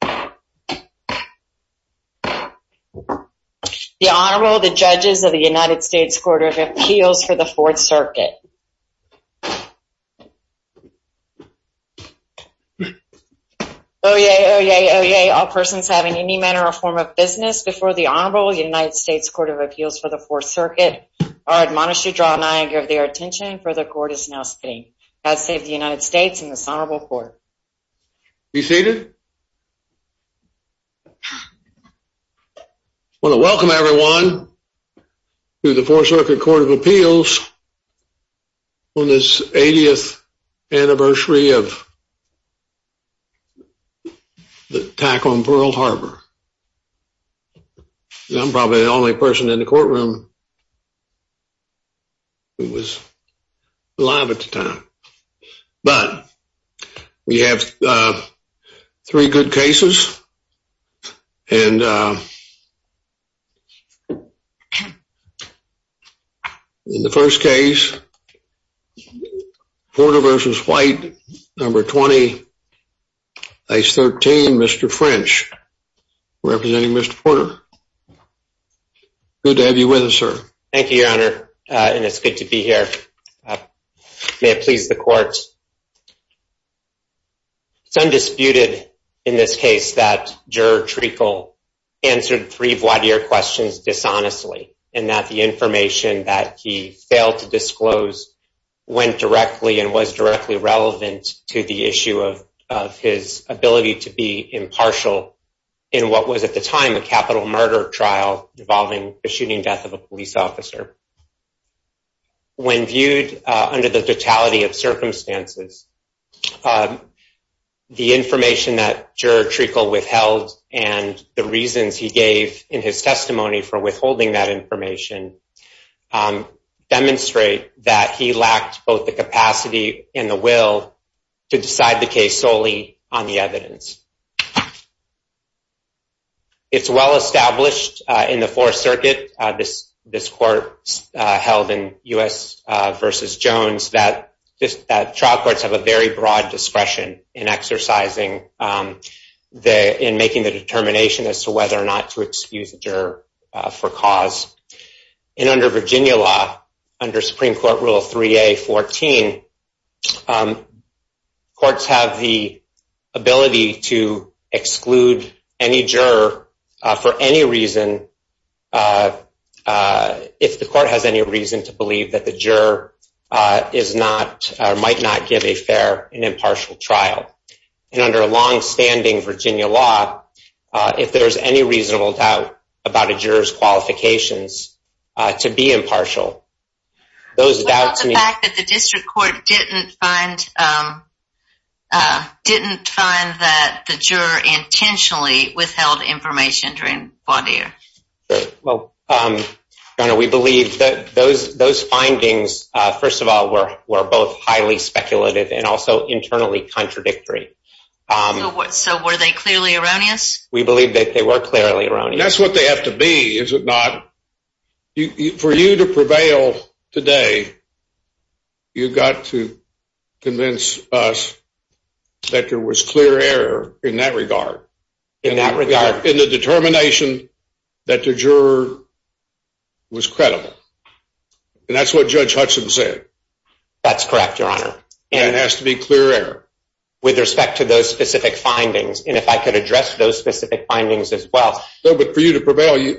The Honorable, the Judges of the United States Court of Appeals for the Fourth Circuit. Oyez, oyez, oyez, all persons having any manner or form of business before the Honorable United States Court of Appeals for the Fourth Circuit are admonished to draw nigh and give their attention, for the court is now sitting. God save the United States and this Honorable Court. Be seated. I want to welcome everyone to the Fourth Circuit Court of Appeals on this 80th anniversary of the attack on Pearl Harbor. I'm probably the only person in the courtroom who was alive at the time. But, we have three good cases, and in the first case, Porter v. White, number 20, face 13, Mr. French, representing Mr. Porter. Good to have you with us, sir. Thank you, Your Honor, and it's good to be here. May it please the court. It's undisputed in this case that Juror Treacle answered three voir dire questions dishonestly, and that the information that he failed to disclose went directly and was directly relevant to the issue of his ability to be impartial in what was at the time a capital murder trial involving the shooting death of a police officer. When viewed under the totality of circumstances, the information that Juror Treacle withheld and the reasons he gave in his testimony for withholding that information demonstrate that he lacked both the capacity and the will to decide the case solely on the evidence. It's well established in the Fourth Circuit, this court held in U.S. v. Jones, that trial courts have a very broad discretion in exercising and making the determination as to whether or not to excuse a juror for cause. And under Virginia law, under Supreme Court Rule 3A.14, courts have the ability to exclude any juror for any reason if the court has any reason to believe that the juror might not give a fair and impartial trial. And under long-standing Virginia law, if there's any reasonable doubt about a juror's qualifications to be impartial, those doubts... Well, the fact that the district court didn't find that the juror intentionally withheld information during voir dire. Well, we believe that those findings, first of all, were both highly speculative and also internally contradictory. So were they clearly erroneous? We believe that they were clearly erroneous. That's what they have to be, is it not? For you to prevail today, you've got to convince us that there was clear error in that regard. In that regard? In the determination that the juror was credible. And that's what Judge Hudson said. That's correct, Your Honor. And it has to be clear error. With respect to those specific findings, and if I could address those specific findings as well. No, but for you to prevail,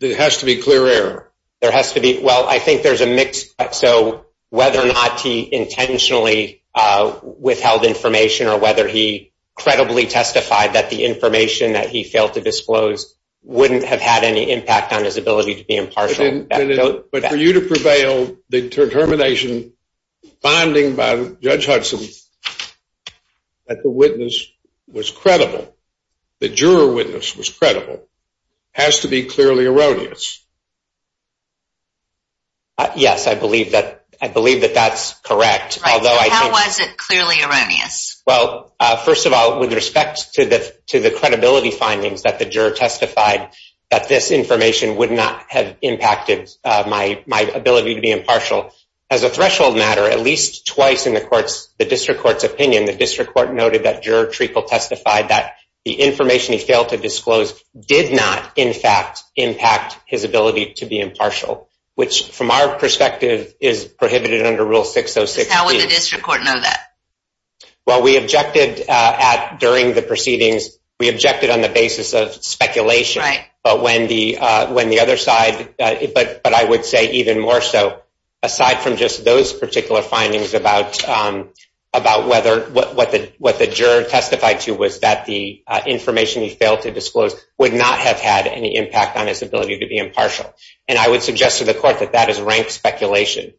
there has to be clear error. There has to be. Well, I think there's a mix. So whether or not he intentionally withheld information or whether he credibly testified that the information that he failed to disclose wouldn't have had any impact on his ability to be impartial. But for you to prevail, the determination finding by Judge Hudson that the witness was credible, the juror witness was credible, has to be clearly erroneous. Yes, I believe that that's correct. How was it clearly erroneous? Well, first of all, with respect to the credibility findings that the juror testified that this information would not have impacted my ability to be impartial. As a threshold matter, at least twice in the district court's opinion, the district court noted that juror Treacle testified that the information he failed to disclose did not, in fact, impact his ability to be impartial. Which, from our perspective, is prohibited under Rule 606. How would the district court know that? Well, we objected at, during the proceedings, we objected on the basis of speculation. Right. But when the other side, but I would say even more so, aside from just those particular findings about whether, what the juror testified to was that the information he failed to disclose would not have had any impact on his ability to be impartial. And I would suggest to the court that that is ranked speculation.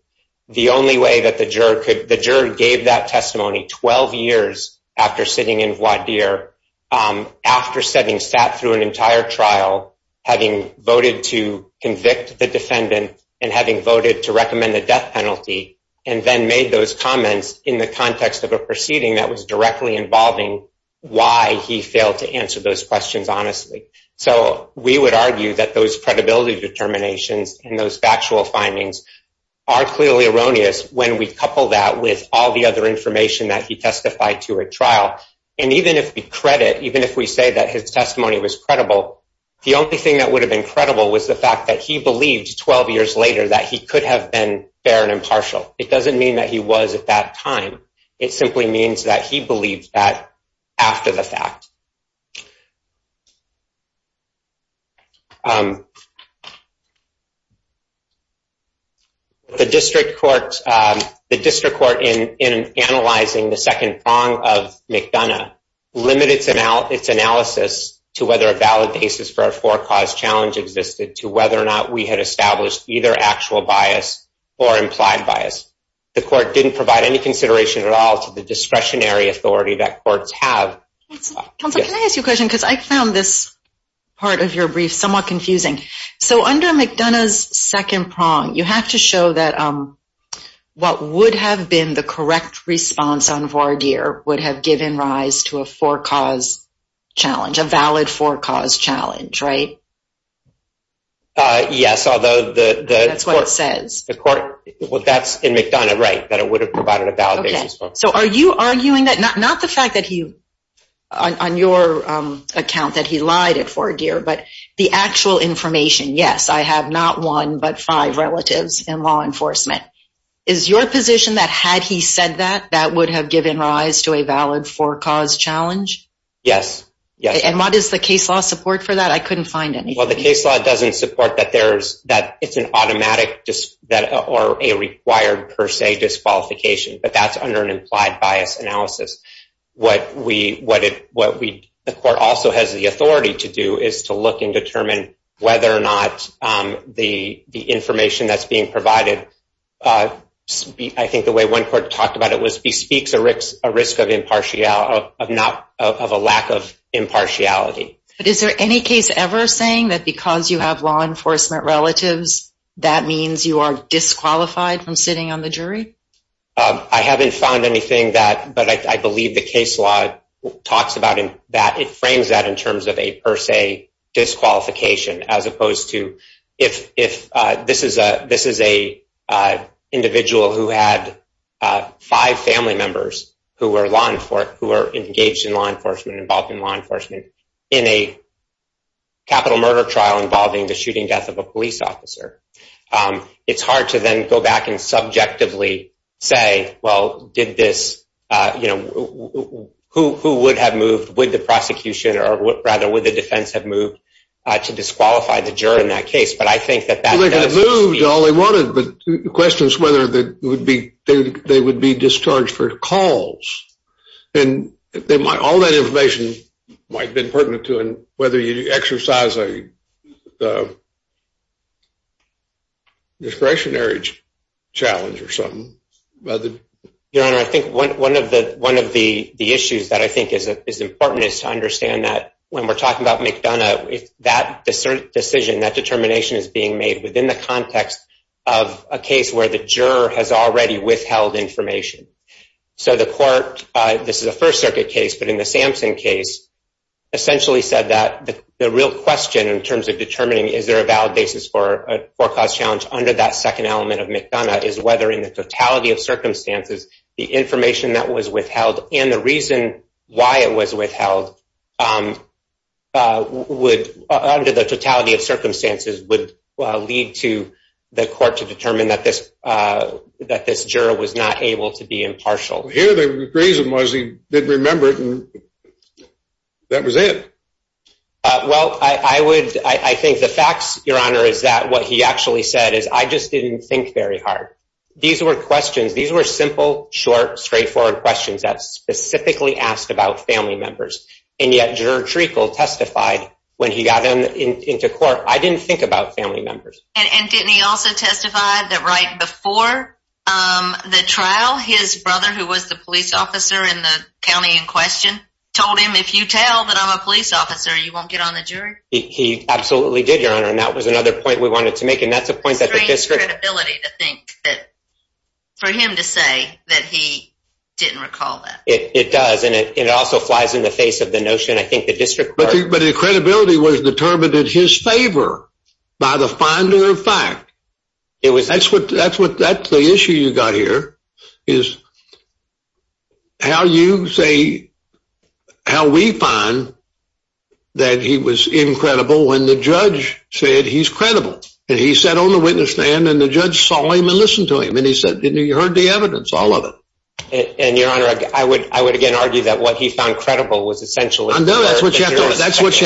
The only way that the juror could, the juror gave that testimony 12 years after sitting in voir dire, after sitting, sat through an entire trial, having voted to convict the defendant, and having voted to recommend the death penalty, and then made those comments in the context of a proceeding that was directly involving why he failed to answer those questions honestly. So we would argue that those credibility determinations and those factual findings are clearly erroneous when we couple that with all the other information that he testified to at trial. And even if we credit, even if we say that his testimony was credible, the only thing that would have been credible was the fact that he believed 12 years later that he could have been fair and impartial. It doesn't mean that he was at that time. It simply means that he believed that after the fact. The district court in analyzing the second prong of McDonough limited its analysis to whether a valid basis for a four cause challenge existed to whether or not we had established either actual bias or implied bias. The court didn't provide any consideration at all to the discretionary authority that courts have. Counselor, can I ask you a question? Because I found this part of your brief somewhat confusing. So under McDonough's second prong, you have to show that what would have been the correct response on voir dire would have given rise to a four cause challenge, a valid four cause challenge, right? Yes. That's what it says. Well, that's in McDonough, right? That it would have provided a valid basis. So are you arguing that not not the fact that he on your account that he lied at four gear, but the actual information? Yes, I have not one but five relatives in law enforcement. Is your position that had he said that that would have given rise to a valid four cause challenge? Yes. And what is the case law support for that? I couldn't find any. Well, the case law doesn't support that it's an automatic or a required per se disqualification, but that's under an implied bias analysis. What the court also has the authority to do is to look and determine whether or not the information that's being provided. I think the way one court talked about it was bespeaks a risk of a lack of impartiality. But is there any case ever saying that because you have law enforcement relatives, that means you are disqualified from sitting on the jury? I haven't found anything that but I believe the case law talks about in that it frames that in terms of a per se disqualification as opposed to if if this is a this is a individual who had five family members who were long for who are engaged in law enforcement involved in law enforcement. And in a capital murder trial involving the shooting death of a police officer. It's hard to then go back and subjectively say, well, did this, you know, who who would have moved with the prosecution or rather with the defense have moved to disqualify the jury in that case. But I think that that moved all they wanted. But the question is whether that would be they would be discharged for calls. And all that information might have been pertinent to whether you exercise a discretionary challenge or something. I think one of the one of the issues that I think is important is to understand that when we're talking about McDonough, if that decision that determination is being made within the context of a case where the juror has already withheld information. So the court, this is a First Circuit case, but in the Sampson case, essentially said that the real question in terms of determining is there a valid basis for a forecast challenge under that second element of McDonough is whether in the totality of circumstances, the information that was withheld. And the reason why it was withheld would under the totality of circumstances would lead to the court to determine that this that this juror was not able to be impartial here. The reason was he didn't remember it. And that was it. Well, I would I think the facts, Your Honor, is that what he actually said is I just didn't think very hard. These were questions. These were simple, short, straightforward questions that specifically asked about family members. And yet juror Treacle testified when he got into court. I didn't think about family members. And didn't he also testify that right before the trial, his brother, who was the police officer in the county in question, told him, if you tell that I'm a police officer, you won't get on the jury. He absolutely did, Your Honor. And that was another point we wanted to make. And that's a point that the district ability to think that for him to say that he didn't recall that it does. And it also flies in the face of the notion. I think the district. But the credibility was determined in his favor by the finder of fact. It was that's what that's what that's the issue you got here is. How you say how we find that he was incredible when the judge said he's credible and he sat on the witness stand and the judge saw him and listen to him. And he said, you heard the evidence, all of it. And your honor, I would I would again argue that what he found credible was essentially. That's what you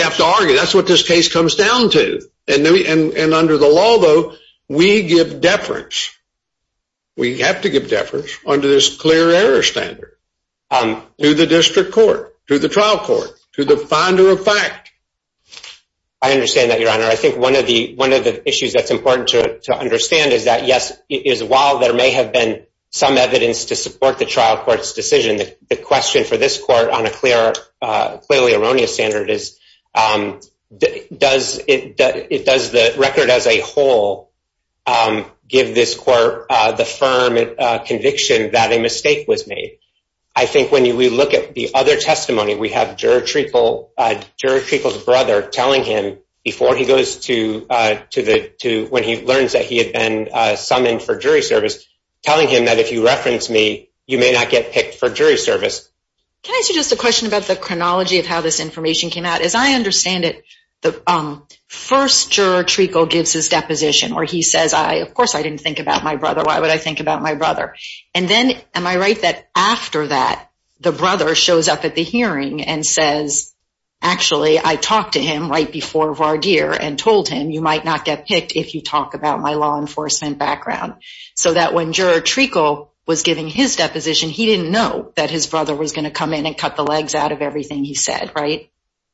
have to argue. That's what this case comes down to. And under the law, though, we give deference. We have to give deference under this clear error standard to the district court, to the trial court, to the finder of fact. I understand that, Your Honor. I think one of the one of the issues that's important to understand is that, yes, is while there may have been some evidence to support the trial court's decision. And the question for this court on a clear, clearly erroneous standard is, does it does the record as a whole give this court the firm conviction that a mistake was made? I think when we look at the other testimony, we have juror Treacle, juror Treacle's brother telling him before he goes to when he learns that he had been summoned for jury service, telling him that if you reference me, you may not get picked for jury service. Can I ask you just a question about the chronology of how this information came out? As I understand it, the first juror Treacle gives his deposition where he says, I, of course, I didn't think about my brother. Why would I think about my brother? And then, am I right that after that, the brother shows up at the hearing and says, actually, I talked to him right before Vardir and told him you might not get picked if you talk about my law enforcement background. So that when juror Treacle was giving his deposition, he didn't know that his brother was going to come in and cut the legs out of everything he said, right?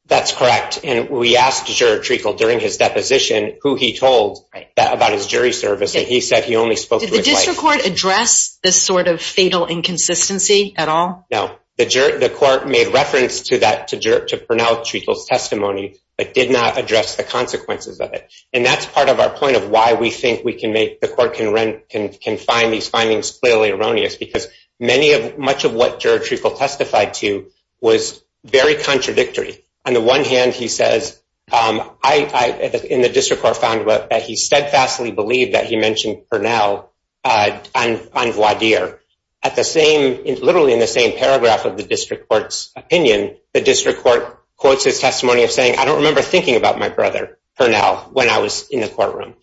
That's correct. And we asked juror Treacle during his deposition who he told about his jury service. Did the district court address this sort of fatal inconsistency at all? No. The court made reference to Pernell Treacle's testimony, but did not address the consequences of it. And that's part of our point of why we think the court can find these findings clearly erroneous, because much of what juror Treacle testified to was very contradictory. On the one hand, he says, I, in the district court, found that he steadfastly believed that he mentioned Pernell on Vardir. At the same, literally in the same paragraph of the district court's opinion, the district court quotes his testimony of saying, I don't remember thinking about my brother, Pernell, when I was in the courtroom.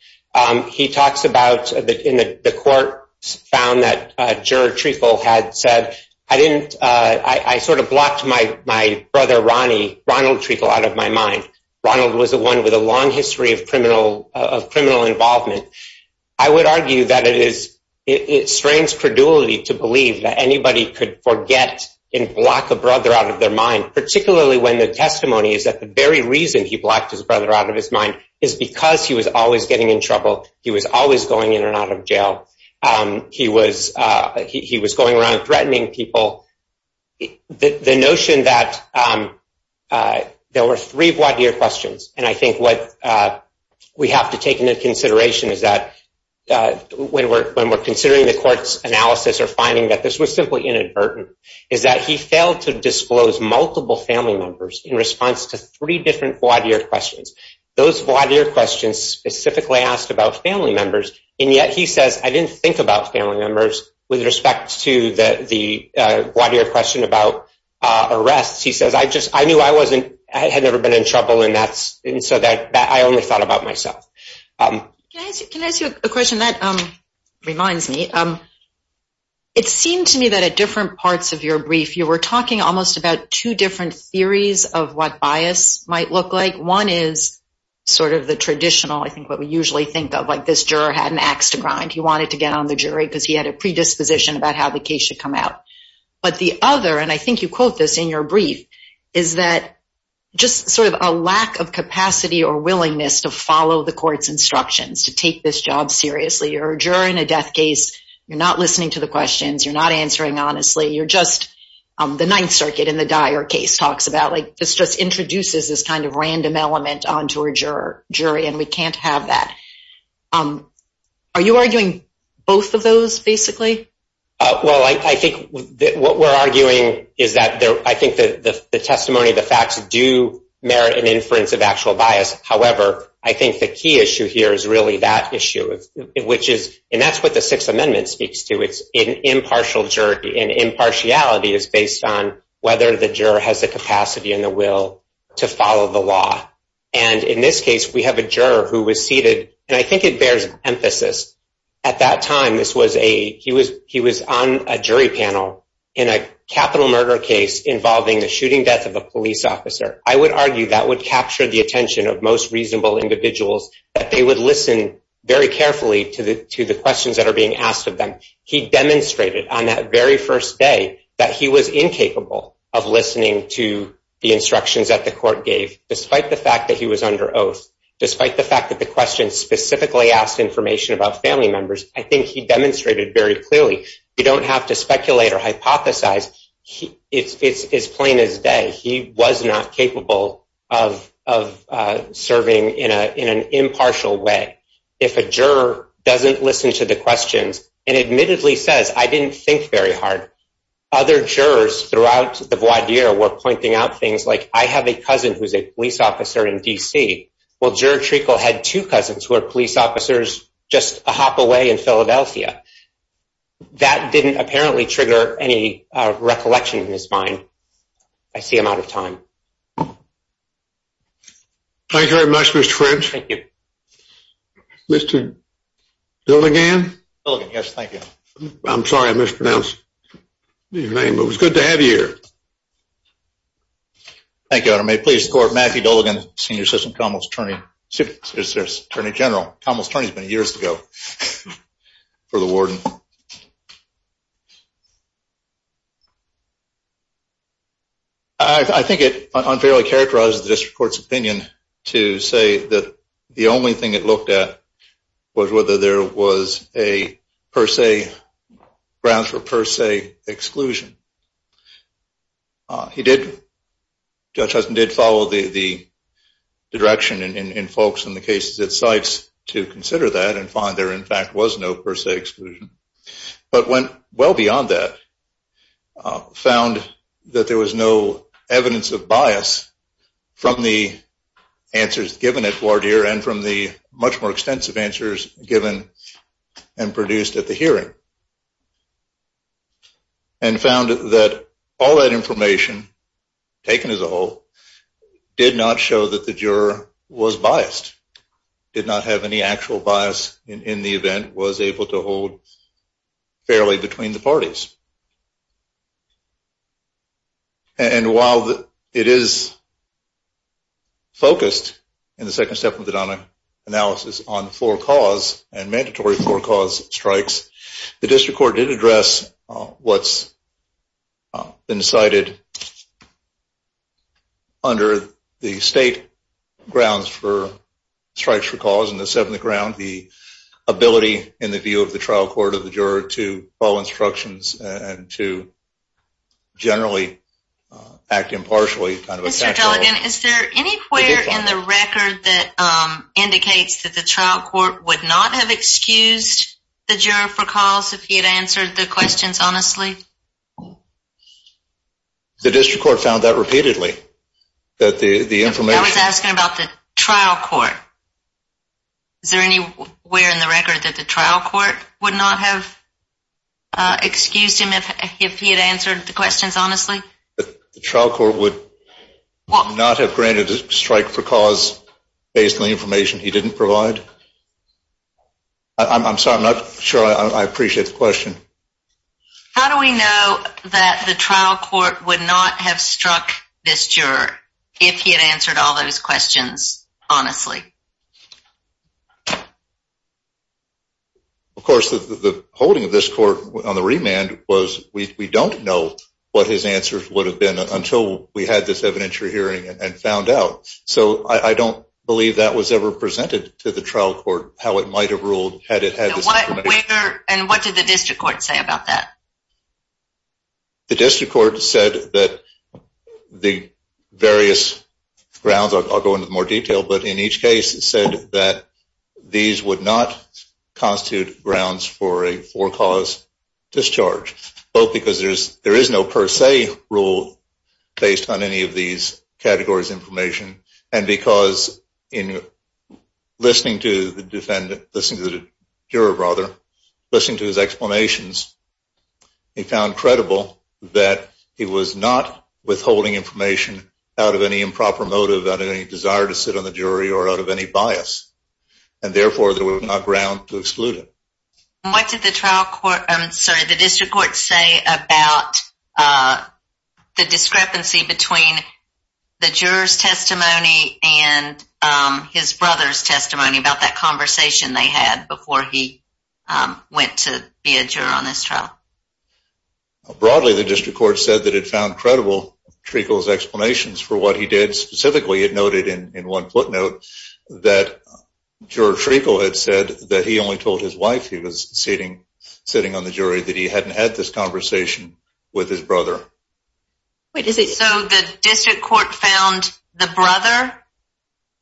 He talks about the court found that juror Treacle had said, I sort of blocked my brother, Ronnie, Ronald Treacle, out of my mind. Ronald was the one with a long history of criminal involvement. I would argue that it strains credulity to believe that anybody could forget and block a brother out of their mind, particularly when the testimony is that the very reason he blocked his brother out of his mind is because he was always getting in trouble. He was always going in and out of jail. He was going around threatening people. The notion that there were three Vardir questions, and I think what we have to take into consideration is that when we're considering the court's analysis or finding that this was simply inadvertent, is that he failed to disclose multiple family members in response to three different Vardir questions. Those Vardir questions specifically asked about family members, and yet he says, I didn't think about family members with respect to the Vardir question about arrests. He says, I knew I had never been in trouble, and so I only thought about myself. Can I ask you a question that reminds me? It seemed to me that at different parts of your brief, you were talking almost about two different theories of what bias might look like. One is sort of the traditional, I think what we usually think of, like this juror had an ax to grind. He wanted to get on the jury because he had a predisposition about how the case should come out. But the other, and I think you quote this in your brief, is that just sort of a lack of capacity or willingness to follow the court's instructions to take this job seriously. You're a juror in a death case. You're not listening to the questions. You're not answering honestly. You're just the Ninth Circuit in the Dyer case talks about, like, this just introduces this kind of random element onto a jury, and we can't have that. Are you arguing both of those, basically? Well, I think what we're arguing is that I think the testimony, the facts do merit an inference of actual bias. However, I think the key issue here is really that issue, which is, and that's what the Sixth Amendment speaks to. It's an impartial jury, and impartiality is based on whether the juror has the capacity and the will to follow the law. And in this case, we have a juror who was seated, and I think it bears emphasis. At that time, this was a, he was on a jury panel in a capital murder case involving the shooting death of a police officer. I would argue that would capture the attention of most reasonable individuals, that they would listen very carefully to the questions that are being asked of them. He demonstrated on that very first day that he was incapable of listening to the instructions that the court gave, despite the fact that he was under oath, despite the fact that the question specifically asked information about family members. I think he demonstrated very clearly. You don't have to speculate or hypothesize. It's as plain as day. He was not capable of serving in an impartial way. If a juror doesn't listen to the questions and admittedly says, I didn't think very hard, other jurors throughout the voir dire were pointing out things like, I have a cousin who's a police officer in D.C. Well, Juror Treacle had two cousins who are police officers just a hop away in Philadelphia. That didn't apparently trigger any recollection in his mind. I see I'm out of time. Thank you very much, Mr. French. Thank you. Mr. Billigan? Billigan, yes, thank you. I'm sorry I mispronounced your name. It was good to have you here. Thank you, Your Honor. May it please the court, Matthew Billigan, senior assistant commonwealth attorney, assistant attorney general. Commonwealth attorney has been years to go for the warden. I think it unfairly characterizes the district court's opinion to say that the only thing it looked at was whether there was a per se, grounds for per se exclusion. He did, Judge Hudson did follow the direction in folks in the cases it cites to consider that and find there in fact was no per se exclusion, but went well beyond that, found that there was no evidence of bias from the answers given at voir dire and from the much more extensive answers given and produced at the hearing, and found that all that information taken as a whole did not show that the juror was biased, did not have any actual bias in the event, was able to hold fairly between the parties. And while it is focused in the second step of the Donna analysis on floor cause and mandatory floor cause strikes, the district court did address what's been cited under the state grounds for strikes for cause in the seventh ground, the ability in the view of the trial court of the juror to follow instructions and to generally act impartially. Mr. Duggan, is there anywhere in the record that indicates that the trial court would not have excused the juror for cause if he had answered the questions honestly? The district court found that repeatedly. I was asking about the trial court. Is there anywhere in the record that the trial court would not have excused him if he had answered the questions honestly? The trial court would not have granted a strike for cause based on the information he didn't provide? I'm sorry, I'm not sure I appreciate the question. How do we know that the trial court would not have struck this juror if he had answered all those questions honestly? Of course, the holding of this court on the remand was we don't know what his answers would have been until we had this evidentiary hearing and found out. So I don't believe that was ever presented to the trial court, how it might have ruled. And what did the district court say about that? The district court said that the various grounds, I'll go into more detail, but in each case it said that these would not constitute grounds for a for cause discharge. Both because there is no per se rule based on any of these categories of information and because in listening to the juror, listening to his explanations, he found credible that he was not withholding information out of any improper motive, out of any desire to sit on the jury, or out of any bias. And therefore there was not ground to exclude him. And what did the district court say about the discrepancy between the juror's testimony and his brother's testimony about that conversation they had before he went to be a juror on this trial? Broadly, the district court said that it found credible Treacle's explanations for what he did. Specifically, it noted in one footnote that juror Treacle had said that he only told his wife he was sitting on the jury, that he hadn't had this conversation with his brother. So the district court found the brother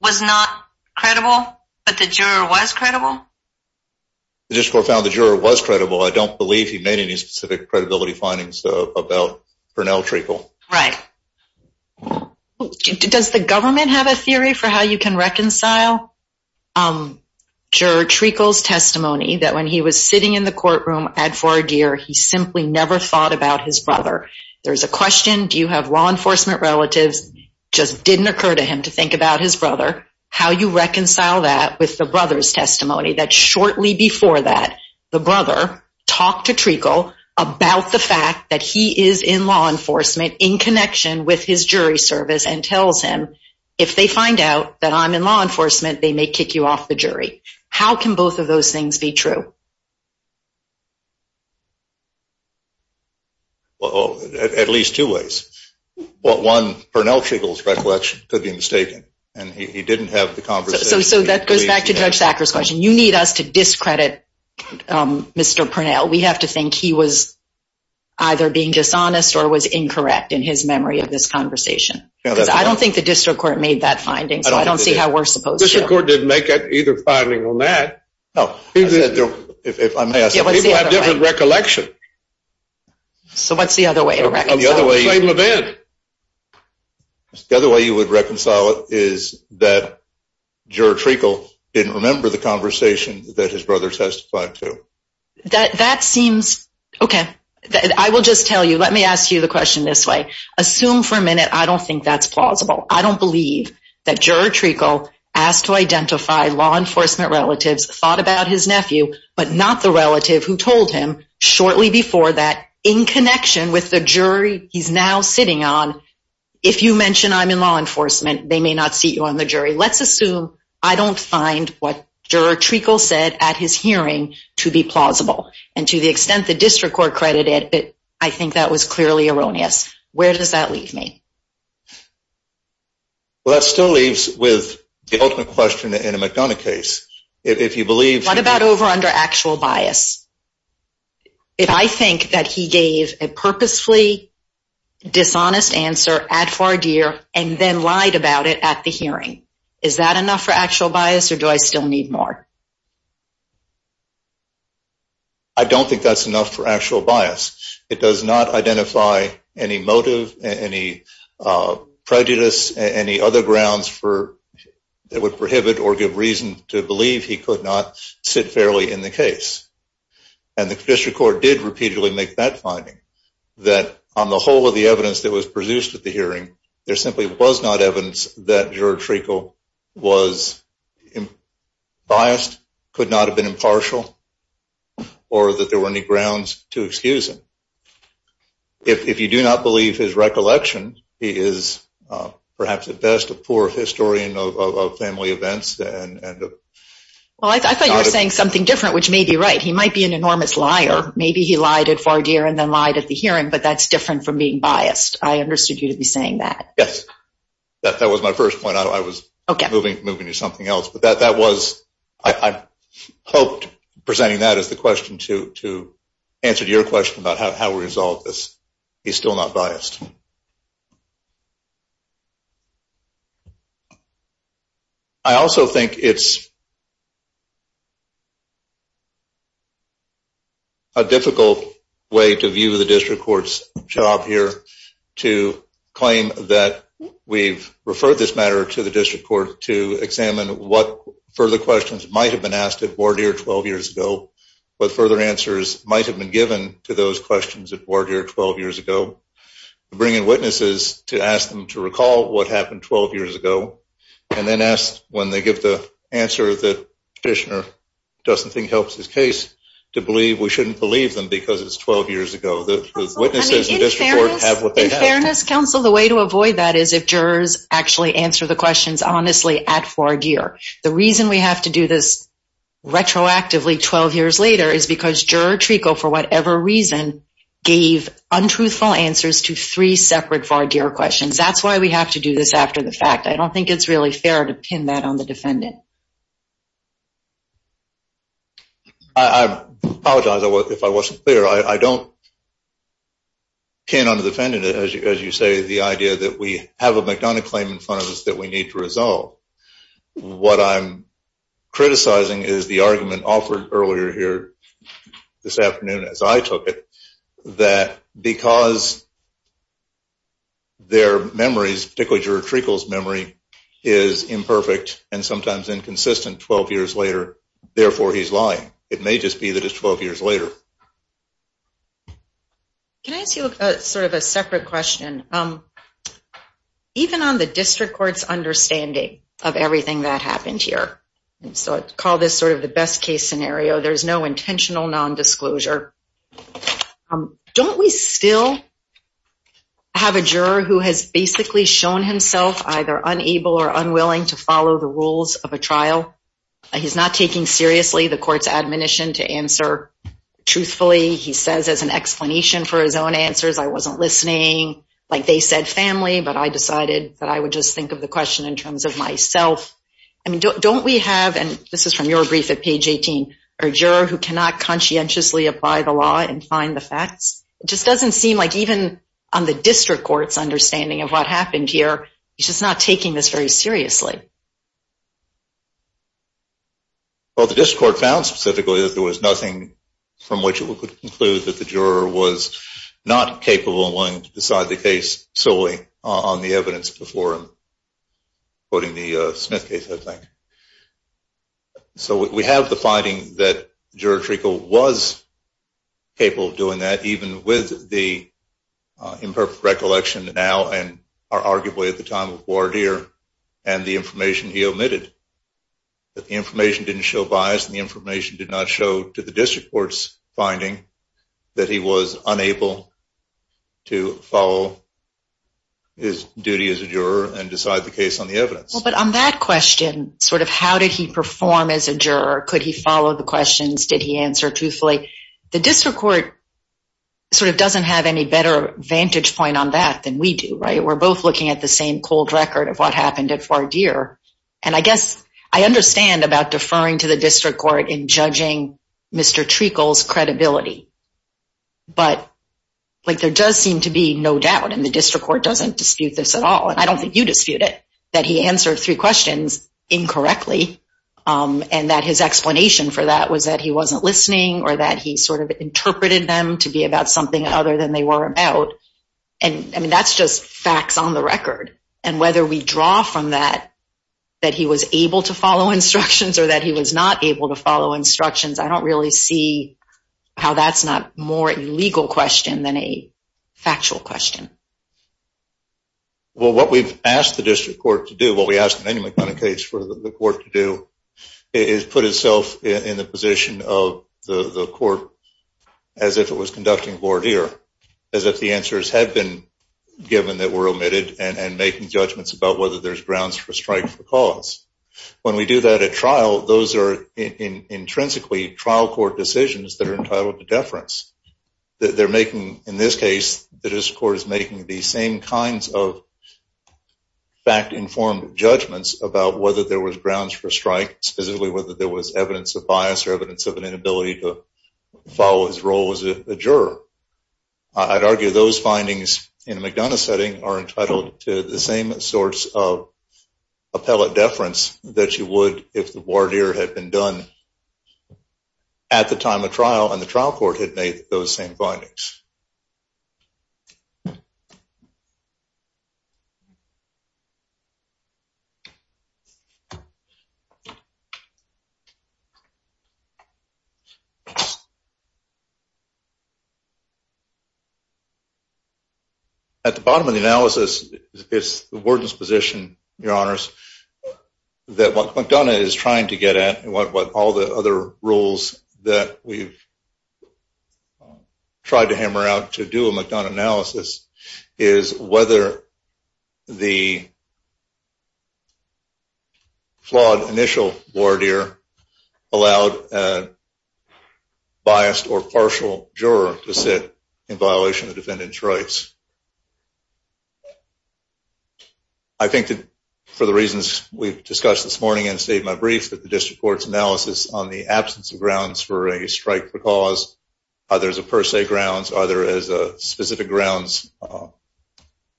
was not credible, but the juror was credible? The district court found the juror was credible. I don't believe he made any specific credibility findings about Purnell Treacle. Right. Does the government have a theory for how you can reconcile juror Treacle's testimony that when he was sitting in the courtroom at Fort Adair, he simply never thought about his brother? There's a question, do you have law enforcement relatives? It just didn't occur to him to think about his brother. How do you reconcile that with the brother's testimony that shortly before that, the brother talked to Treacle about the fact that he is in law enforcement in connection with his jury service and tells him if they find out that I'm in law enforcement, they may kick you off the jury. How can both of those things be true? Well, at least two ways. One, Purnell Treacle's recollection could be mistaken, and he didn't have the conversation. So that goes back to Judge Sackler's question. You need us to discredit Mr. Purnell. We have to think he was either being dishonest or was incorrect in his memory of this conversation. Because I don't think the district court made that finding, so I don't see how we're supposed to. The district court didn't make either finding on that. People have different recollections. So what's the other way to reconcile it? The other way you would reconcile it is that Juror Treacle didn't remember the conversation that his brother testified to. That seems, okay, I will just tell you, let me ask you the question this way. Assume for a minute, I don't think that's plausible. I don't believe that Juror Treacle asked to identify law enforcement relatives, thought about his nephew, but not the relative who told him shortly before that, in connection with the jury he's now sitting on, if you mention I'm in law enforcement, they may not seat you on the jury. Let's assume I don't find what Juror Treacle said at his hearing to be plausible. And to the extent the district court credited it, I think that was clearly erroneous. Where does that leave me? Well, that still leaves with the ultimate question in a McDonough case. What about over under actual bias? If I think that he gave a purposefully dishonest answer, ad for adere, and then lied about it at the hearing, is that enough for actual bias or do I still need more? I don't think that's enough for actual bias. It does not identify any motive, any prejudice, any other grounds that would prohibit or give reason to believe he could not sit fairly in the case. And the district court did repeatedly make that finding, that on the whole of the evidence that was produced at the hearing, there simply was not evidence that Juror Treacle was biased, could not have been impartial, or that there were any grounds to excuse him. If you do not believe his recollection, he is perhaps at best a poor historian of family events. Well, I thought you were saying something different, which may be right. He might be an enormous liar. Maybe he lied ad for adere and then lied at the hearing, but that's different from being biased. I understood you to be saying that. Yes, that was my first point. I was moving to something else. I hoped presenting that as the question to answer your question about how we resolve this. He's still not biased. I also think it's a difficult way to view the district court's job here to claim that we've referred this matter to the district court to examine what further questions might have been asked at Bordier 12 years ago, what further answers might have been given to those questions at Bordier 12 years ago, bring in witnesses to ask them to recall what happened 12 years ago, and then ask when they give the answer that the petitioner doesn't think helps his case, to believe we shouldn't believe them because it's 12 years ago. In fairness, counsel, the way to avoid that is if jurors actually answer the questions honestly at Bordier. The reason we have to do this retroactively 12 years later is because juror Treko, for whatever reason, gave untruthful answers to three separate Bordier questions. That's why we have to do this after the fact. I don't think it's really fair to pin that on the defendant. I apologize if I wasn't clear. I don't pin on the defendant, as you say, the idea that we have a McDonough claim in front of us that we need to resolve. What I'm criticizing is the argument offered earlier here this afternoon as I took it, that because their memories, particularly juror Treko's memory, is imperfect and sometimes inconsistent 12 years later, therefore he's lying. It may just be that it's 12 years later. Can I ask you sort of a separate question? Even on the district court's understanding of everything that happened here, and so I call this sort of the best case scenario, there's no intentional nondisclosure. Don't we still have a juror who has basically shown himself either unable or unwilling to follow the rules of a trial? He's not taking seriously the court's admonition to answer truthfully. He says as an explanation for his own answers, I wasn't listening, like they said, family, but I decided that I would just think of the question in terms of myself. I mean, don't we have, and this is from your brief at page 18, a juror who cannot conscientiously apply the law and find the facts? It just doesn't seem like even on the district court's understanding of what happened here, he's just not taking this very seriously. Well, the district court found specifically that there was nothing from which it would conclude that the juror was not capable and willing to decide the case solely on the evidence before him, quoting the Smith case, I think. So we have the finding that Juror Treacle was capable of doing that even with the imperfect recollection now and arguably at the time of Wardere and the information he omitted. The information didn't show bias and the information did not show to the district court's finding that he was unable to follow his duty as a juror and decide the case on the evidence. Well, but on that question, sort of how did he perform as a juror? Could he follow the questions? Did he answer truthfully? The district court sort of doesn't have any better vantage point on that than we do, right? We're both looking at the same cold record of what happened at Wardere. And I guess I understand about deferring to the district court in judging Mr. Treacle's credibility. But there does seem to be no doubt, and the district court doesn't dispute this at all, and I don't think you dispute it, that he answered three questions incorrectly and that his explanation for that was that he wasn't listening or that he sort of interpreted them to be about something other than they were about. I mean, that's just facts on the record. And whether we draw from that that he was able to follow instructions or that he was not able to follow instructions, I don't really see how that's not more a legal question than a factual question. Well, what we've asked the district court to do, what we've asked Manny McConaughey's case for the court to do, is put itself in the position of the court as if it was conducting Wardere, as if the answers had been given that were omitted and making judgments about whether there's grounds for strike for cause. When we do that at trial, those are intrinsically trial court decisions that are entitled to deference. They're making, in this case, the district court is making the same kinds of fact-informed judgments about whether there was grounds for strike, specifically whether there was evidence of bias or evidence of an inability to follow his role as a juror. I'd argue those findings in a McDonough setting are entitled to the same sorts of appellate deference that you would if the Wardere had been done at the time of trial and the trial court had made those same findings. At the bottom of the analysis, it's the Warden's position, Your Honors, that what McDonough is trying to get at, and what all the other rules that we've tried to hammer out to do a McDonough analysis, is whether the flawed initial Wardere allowed a biased or partial juror to sit in violation of the defendant's rights. I think that for the reasons we've discussed this morning and stated in my brief, that the district court's analysis on the absence of grounds for a strike for cause, are there as a per se grounds, are there as a specific grounds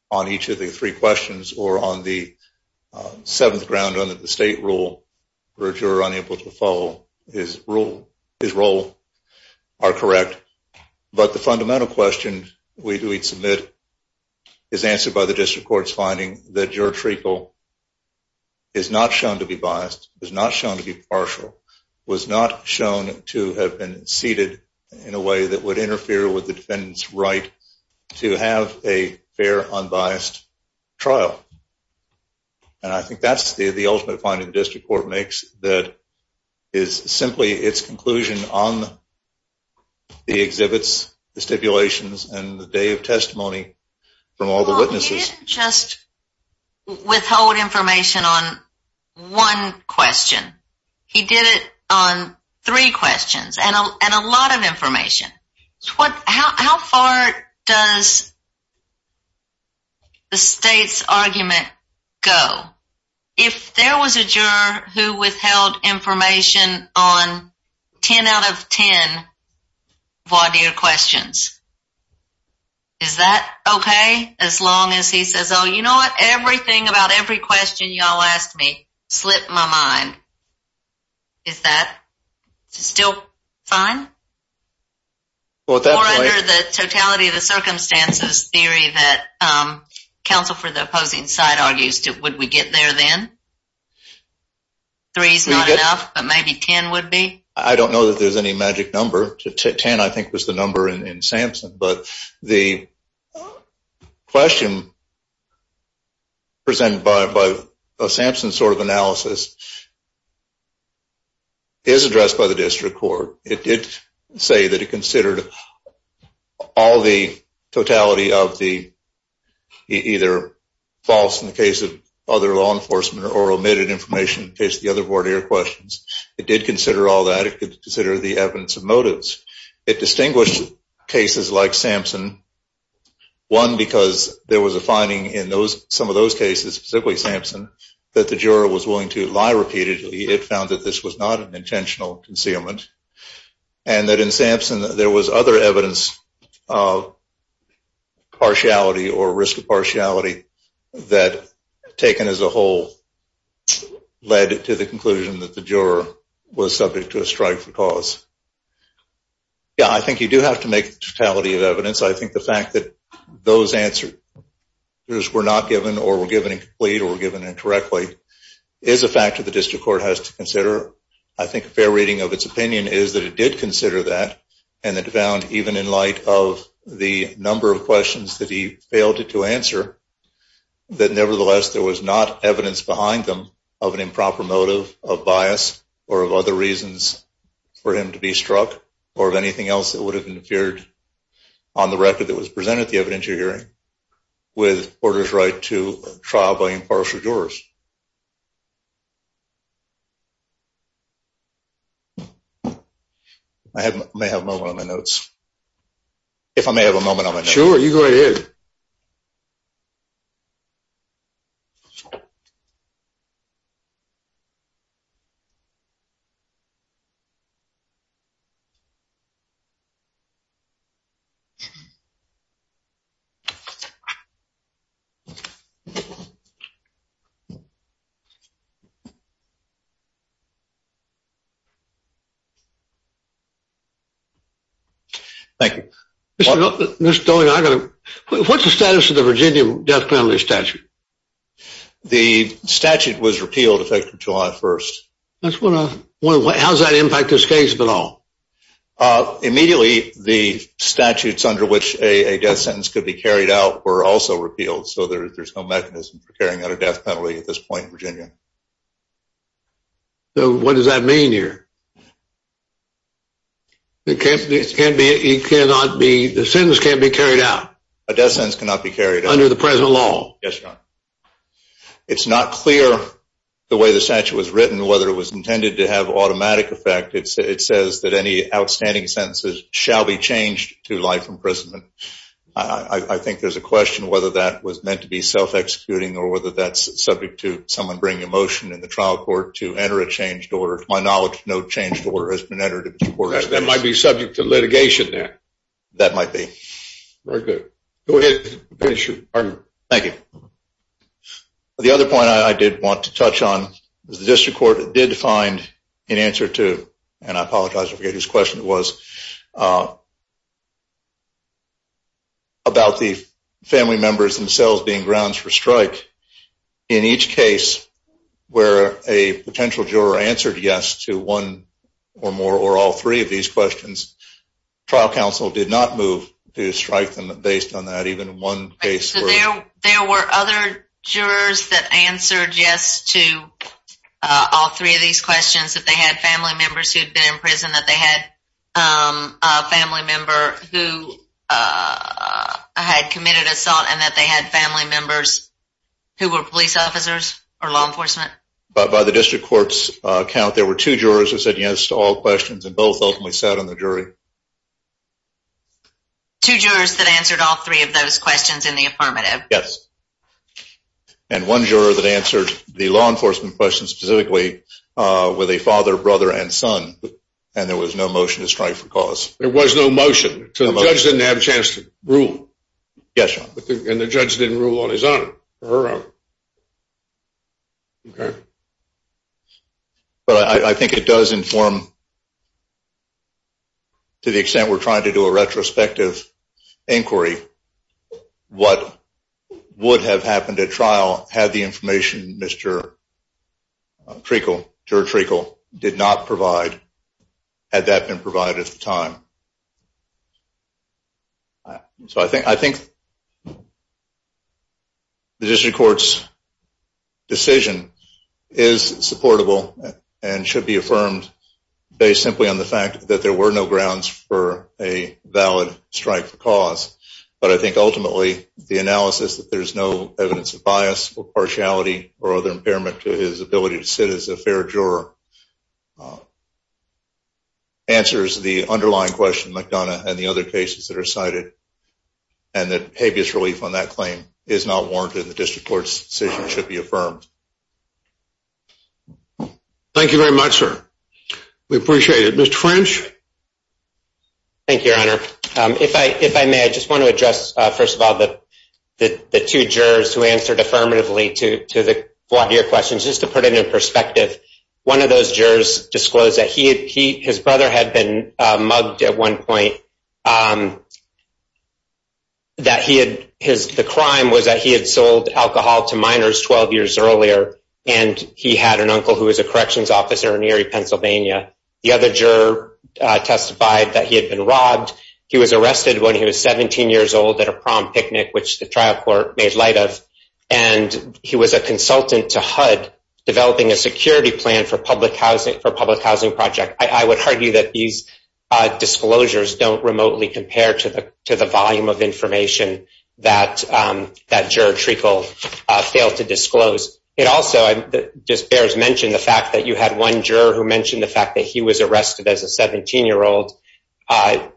on each of the three questions, or on the seventh ground under the state rule where a juror unable to follow his role are correct. But the fundamental question we'd submit is answered by the district court's finding that juror treacle is not shown to be biased, is not shown to be partial, was not shown to have been seated in a way that would interfere with the defendant's right to have a fair, unbiased trial. And I think that's the ultimate finding the district court makes, that is simply its conclusion on the exhibits, the stipulations, and the day of testimony from all the witnesses. He didn't just withhold information on one question. He did it on three questions, and a lot of information. How far does the state's argument go? If there was a juror who withheld information on 10 out of 10 voir dire questions, is that okay as long as he says, oh, you know what, everything about every question y'all asked me slipped my mind. Is that still fine? Or under the totality of the circumstances theory that counsel for the opposing side argues, would we get there then? Three's not enough, but maybe 10 would be? I don't know that there's any magic number. Ten, I think, was the number in Sampson. But the question presented by a Sampson sort of analysis is addressed by the district court. It did say that it considered all the totality of the either false in the case of other law enforcement or omitted information in the case of the other voir dire questions. It did consider all that. It considered the evidence of motives. It distinguished cases like Sampson, one, because there was a finding in some of those cases, specifically Sampson, that the juror was willing to lie repeatedly. It found that this was not an intentional concealment. And that in Sampson, there was other evidence of partiality or risk of partiality that, taken as a whole, led to the conclusion that the juror was subject to a strike for cause. Yeah, I think you do have to make totality of evidence. I think the fact that those answers were not given or were given incomplete or were given incorrectly is a factor the district court has to consider. I think a fair reading of its opinion is that it did consider that and it found, even in light of the number of questions that he failed to answer, that, nevertheless, there was not evidence behind them of an improper motive of bias or of other reasons for him to be struck or of anything else that would have interfered on the record that was presented at the evidentiary hearing with Porter's right to trial by impartial jurors. I may have a moment on my notes. If I may have a moment on my notes. Sure, you go ahead. Thank you. Thank you. Mr. Doley, what's the status of the Virginia death penalty statute? The statute was repealed effective July 1st. How does that impact this case at all? Immediately, the statutes under which a death sentence could be carried out were also repealed, so there's no mechanism for carrying out a death penalty at this point in Virginia. What does that mean here? The sentence can't be carried out? A death sentence cannot be carried out. Under the present law? Yes, Your Honor. It's not clear the way the statute was written whether it was intended to have automatic effect. It says that any outstanding sentences shall be changed to life imprisonment. I think there's a question whether that was meant to be self-executing or whether that's subject to someone bringing a motion in the trial court to enter a changed order. To my knowledge, no changed order has been entered in this court. That might be subject to litigation then. That might be. Very good. Go ahead. Finish your argument. Thank you. The other point I did want to touch on is the district court did find an answer to, and I apologize, I forget whose question it was, about the family members themselves being grounds for strike. In each case where a potential juror answered yes to one or more or all three of these questions, trial counsel did not move to strike them based on that. So there were other jurors that answered yes to all three of these questions, that they had family members who had been in prison, that they had a family member who had committed assault, and that they had family members who were police officers or law enforcement? By the district court's count, there were two jurors who said yes to all questions and both ultimately sat on the jury. Two jurors that answered all three of those questions in the affirmative. Yes. And one juror that answered the law enforcement question specifically with a father, brother, and son, and there was no motion to strike for cause. There was no motion. So the judge didn't have a chance to rule. Yes, Your Honor. And the judge didn't rule on his own or her own. Okay. But I think it does inform, to the extent we're trying to do a retrospective inquiry, what would have happened at trial had the information Mr. Treacle, Juror Treacle, did not provide had that been provided at the time. So I think the district court's decision is supportable and should be affirmed based simply on the fact that there were no grounds for a valid strike for cause. But I think ultimately the analysis that there's no evidence of bias or partiality or other impairment to his ability to sit as a fair juror answers the underlying question, McDonough, and the other cases that are cited, and that habeas relief on that claim is not warranted. The district court's decision should be affirmed. Thank you very much, sir. We appreciate it. Mr. French? Thank you, Your Honor. If I may, I just want to address, first of all, the two jurors who answered affirmatively to your questions. Just to put it in perspective, one of those jurors disclosed that his brother had been mugged at one point. The crime was that he had sold alcohol to minors 12 years earlier, and he had an uncle who was a corrections officer in Erie, Pennsylvania. The other juror testified that he had been robbed. He was arrested when he was 17 years old at a prom picnic, which the trial court made light of, and he was a consultant to HUD developing a security plan for a public housing project. I would argue that these disclosures don't remotely compare to the volume of information that Juror Treacle failed to disclose. It also just bears mentioning the fact that you had one juror who mentioned the fact that he was arrested as a 17-year-old. I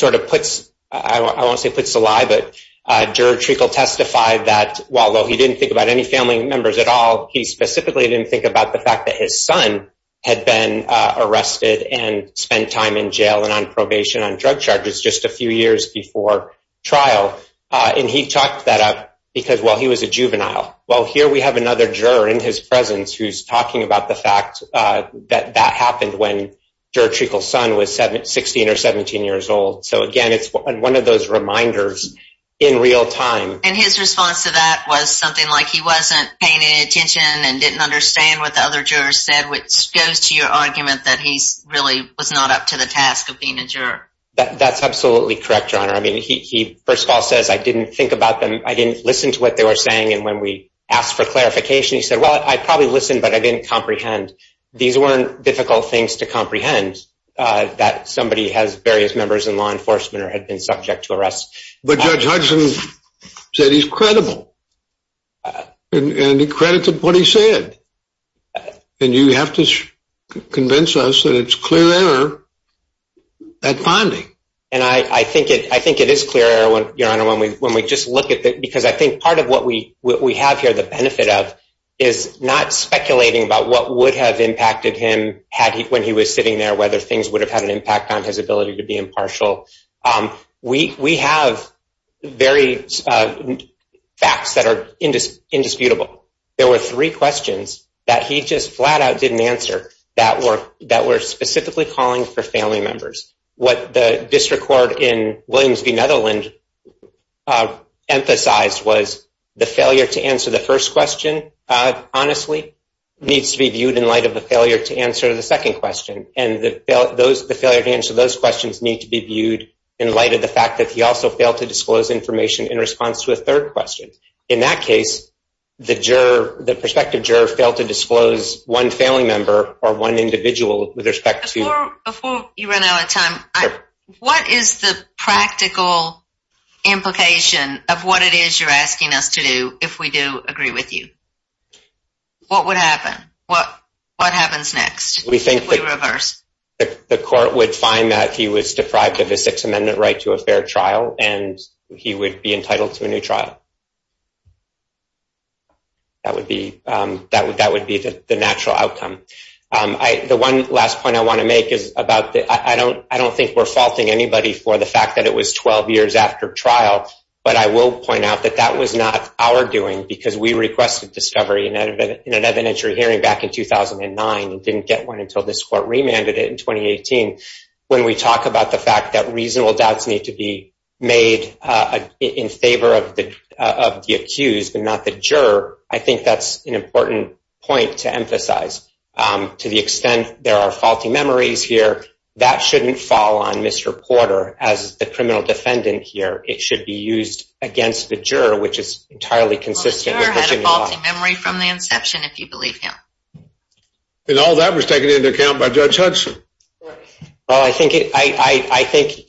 won't say puts a lie, but Juror Treacle testified that although he didn't think about any family members at all, he specifically didn't think about the fact that his son had been arrested and spent time in jail and on probation on drug charges just a few years before trial. He talked that up because, well, he was a juvenile. Well, here we have another juror in his presence who's talking about the fact that that happened when Juror Treacle's son was 16 or 17 years old. So again, it's one of those reminders in real time. And his response to that was something like he wasn't paying any attention and didn't understand what the other jurors said, which goes to your argument that he really was not up to the task of being a juror. That's absolutely correct, Your Honor. I mean, he first of all says, I didn't think about them. I didn't listen to what they were saying. And when we asked for clarification, he said, well, I probably listened, but I didn't comprehend. These weren't difficult things to comprehend that somebody has various members in law enforcement or had been subject to arrest. But Judge Hudson said he's credible. And he credited what he said. And you have to convince us that it's clear error at finding. And I think it is clear error, Your Honor, when we just look at it. Because I think part of what we have here, the benefit of is not speculating about what would have impacted him when he was sitting there, whether things would have had an impact on his ability to be impartial. We have very facts that are indisputable. There were three questions that he just flat out didn't answer that were specifically calling for family members. What the district court in Williams v. The first question, honestly, needs to be viewed in light of the failure to answer the second question. And the failure to answer those questions need to be viewed in light of the fact that he also failed to disclose information in response to a third question. In that case, the juror, the prospective juror, failed to disclose one family member or one individual with respect to. Before you run out of time, what is the practical implication of what it is you're asking us to do if we do agree with you? What would happen? What happens next? We think the court would find that he was deprived of a Sixth Amendment right to a fair trial, and he would be entitled to a new trial. That would be the natural outcome. The one last point I want to make is about, I don't think we're faulting anybody for the fact that it was 12 years after trial, but I will point out that that was not our doing because we requested discovery in an evidentiary hearing back in 2009 and didn't get one until this court remanded it in 2018. When we talk about the fact that reasonable doubts need to be made in favor of the accused and not the juror, I think that's an important point to emphasize to the extent there are reasonable doubts, that shouldn't fall on Mr. Porter as the criminal defendant here. It should be used against the juror, which is entirely consistent. The juror had a faulty memory from the inception, if you believe him. And all that was taken into account by Judge Hudson. I think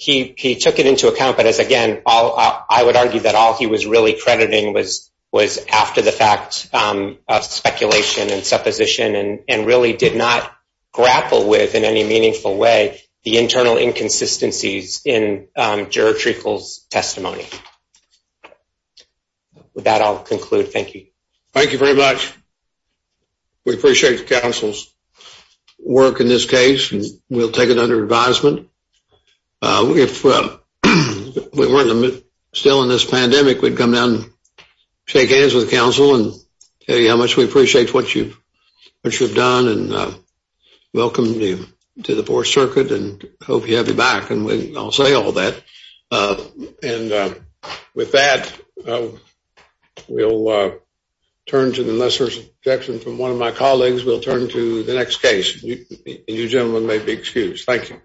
he took it into account, but as again, I would argue that all he was really crediting was after the fact of speculation and supposition and really did not grapple with in any meaningful way, the internal inconsistencies in juror Treacle's testimony. With that, I'll conclude. Thank you. Thank you very much. We appreciate the council's work in this case, and we'll take it under advisement. If we weren't still in this pandemic, we'd come down and shake hands with the council and tell you how much we appreciate your time and your work. We appreciate you coming to our circuit and hope you have your back. And I'll say all that. And with that, we'll turn to the lesser section from one of my colleagues. We'll turn to the next case. You gentlemen may be excused. Thank you.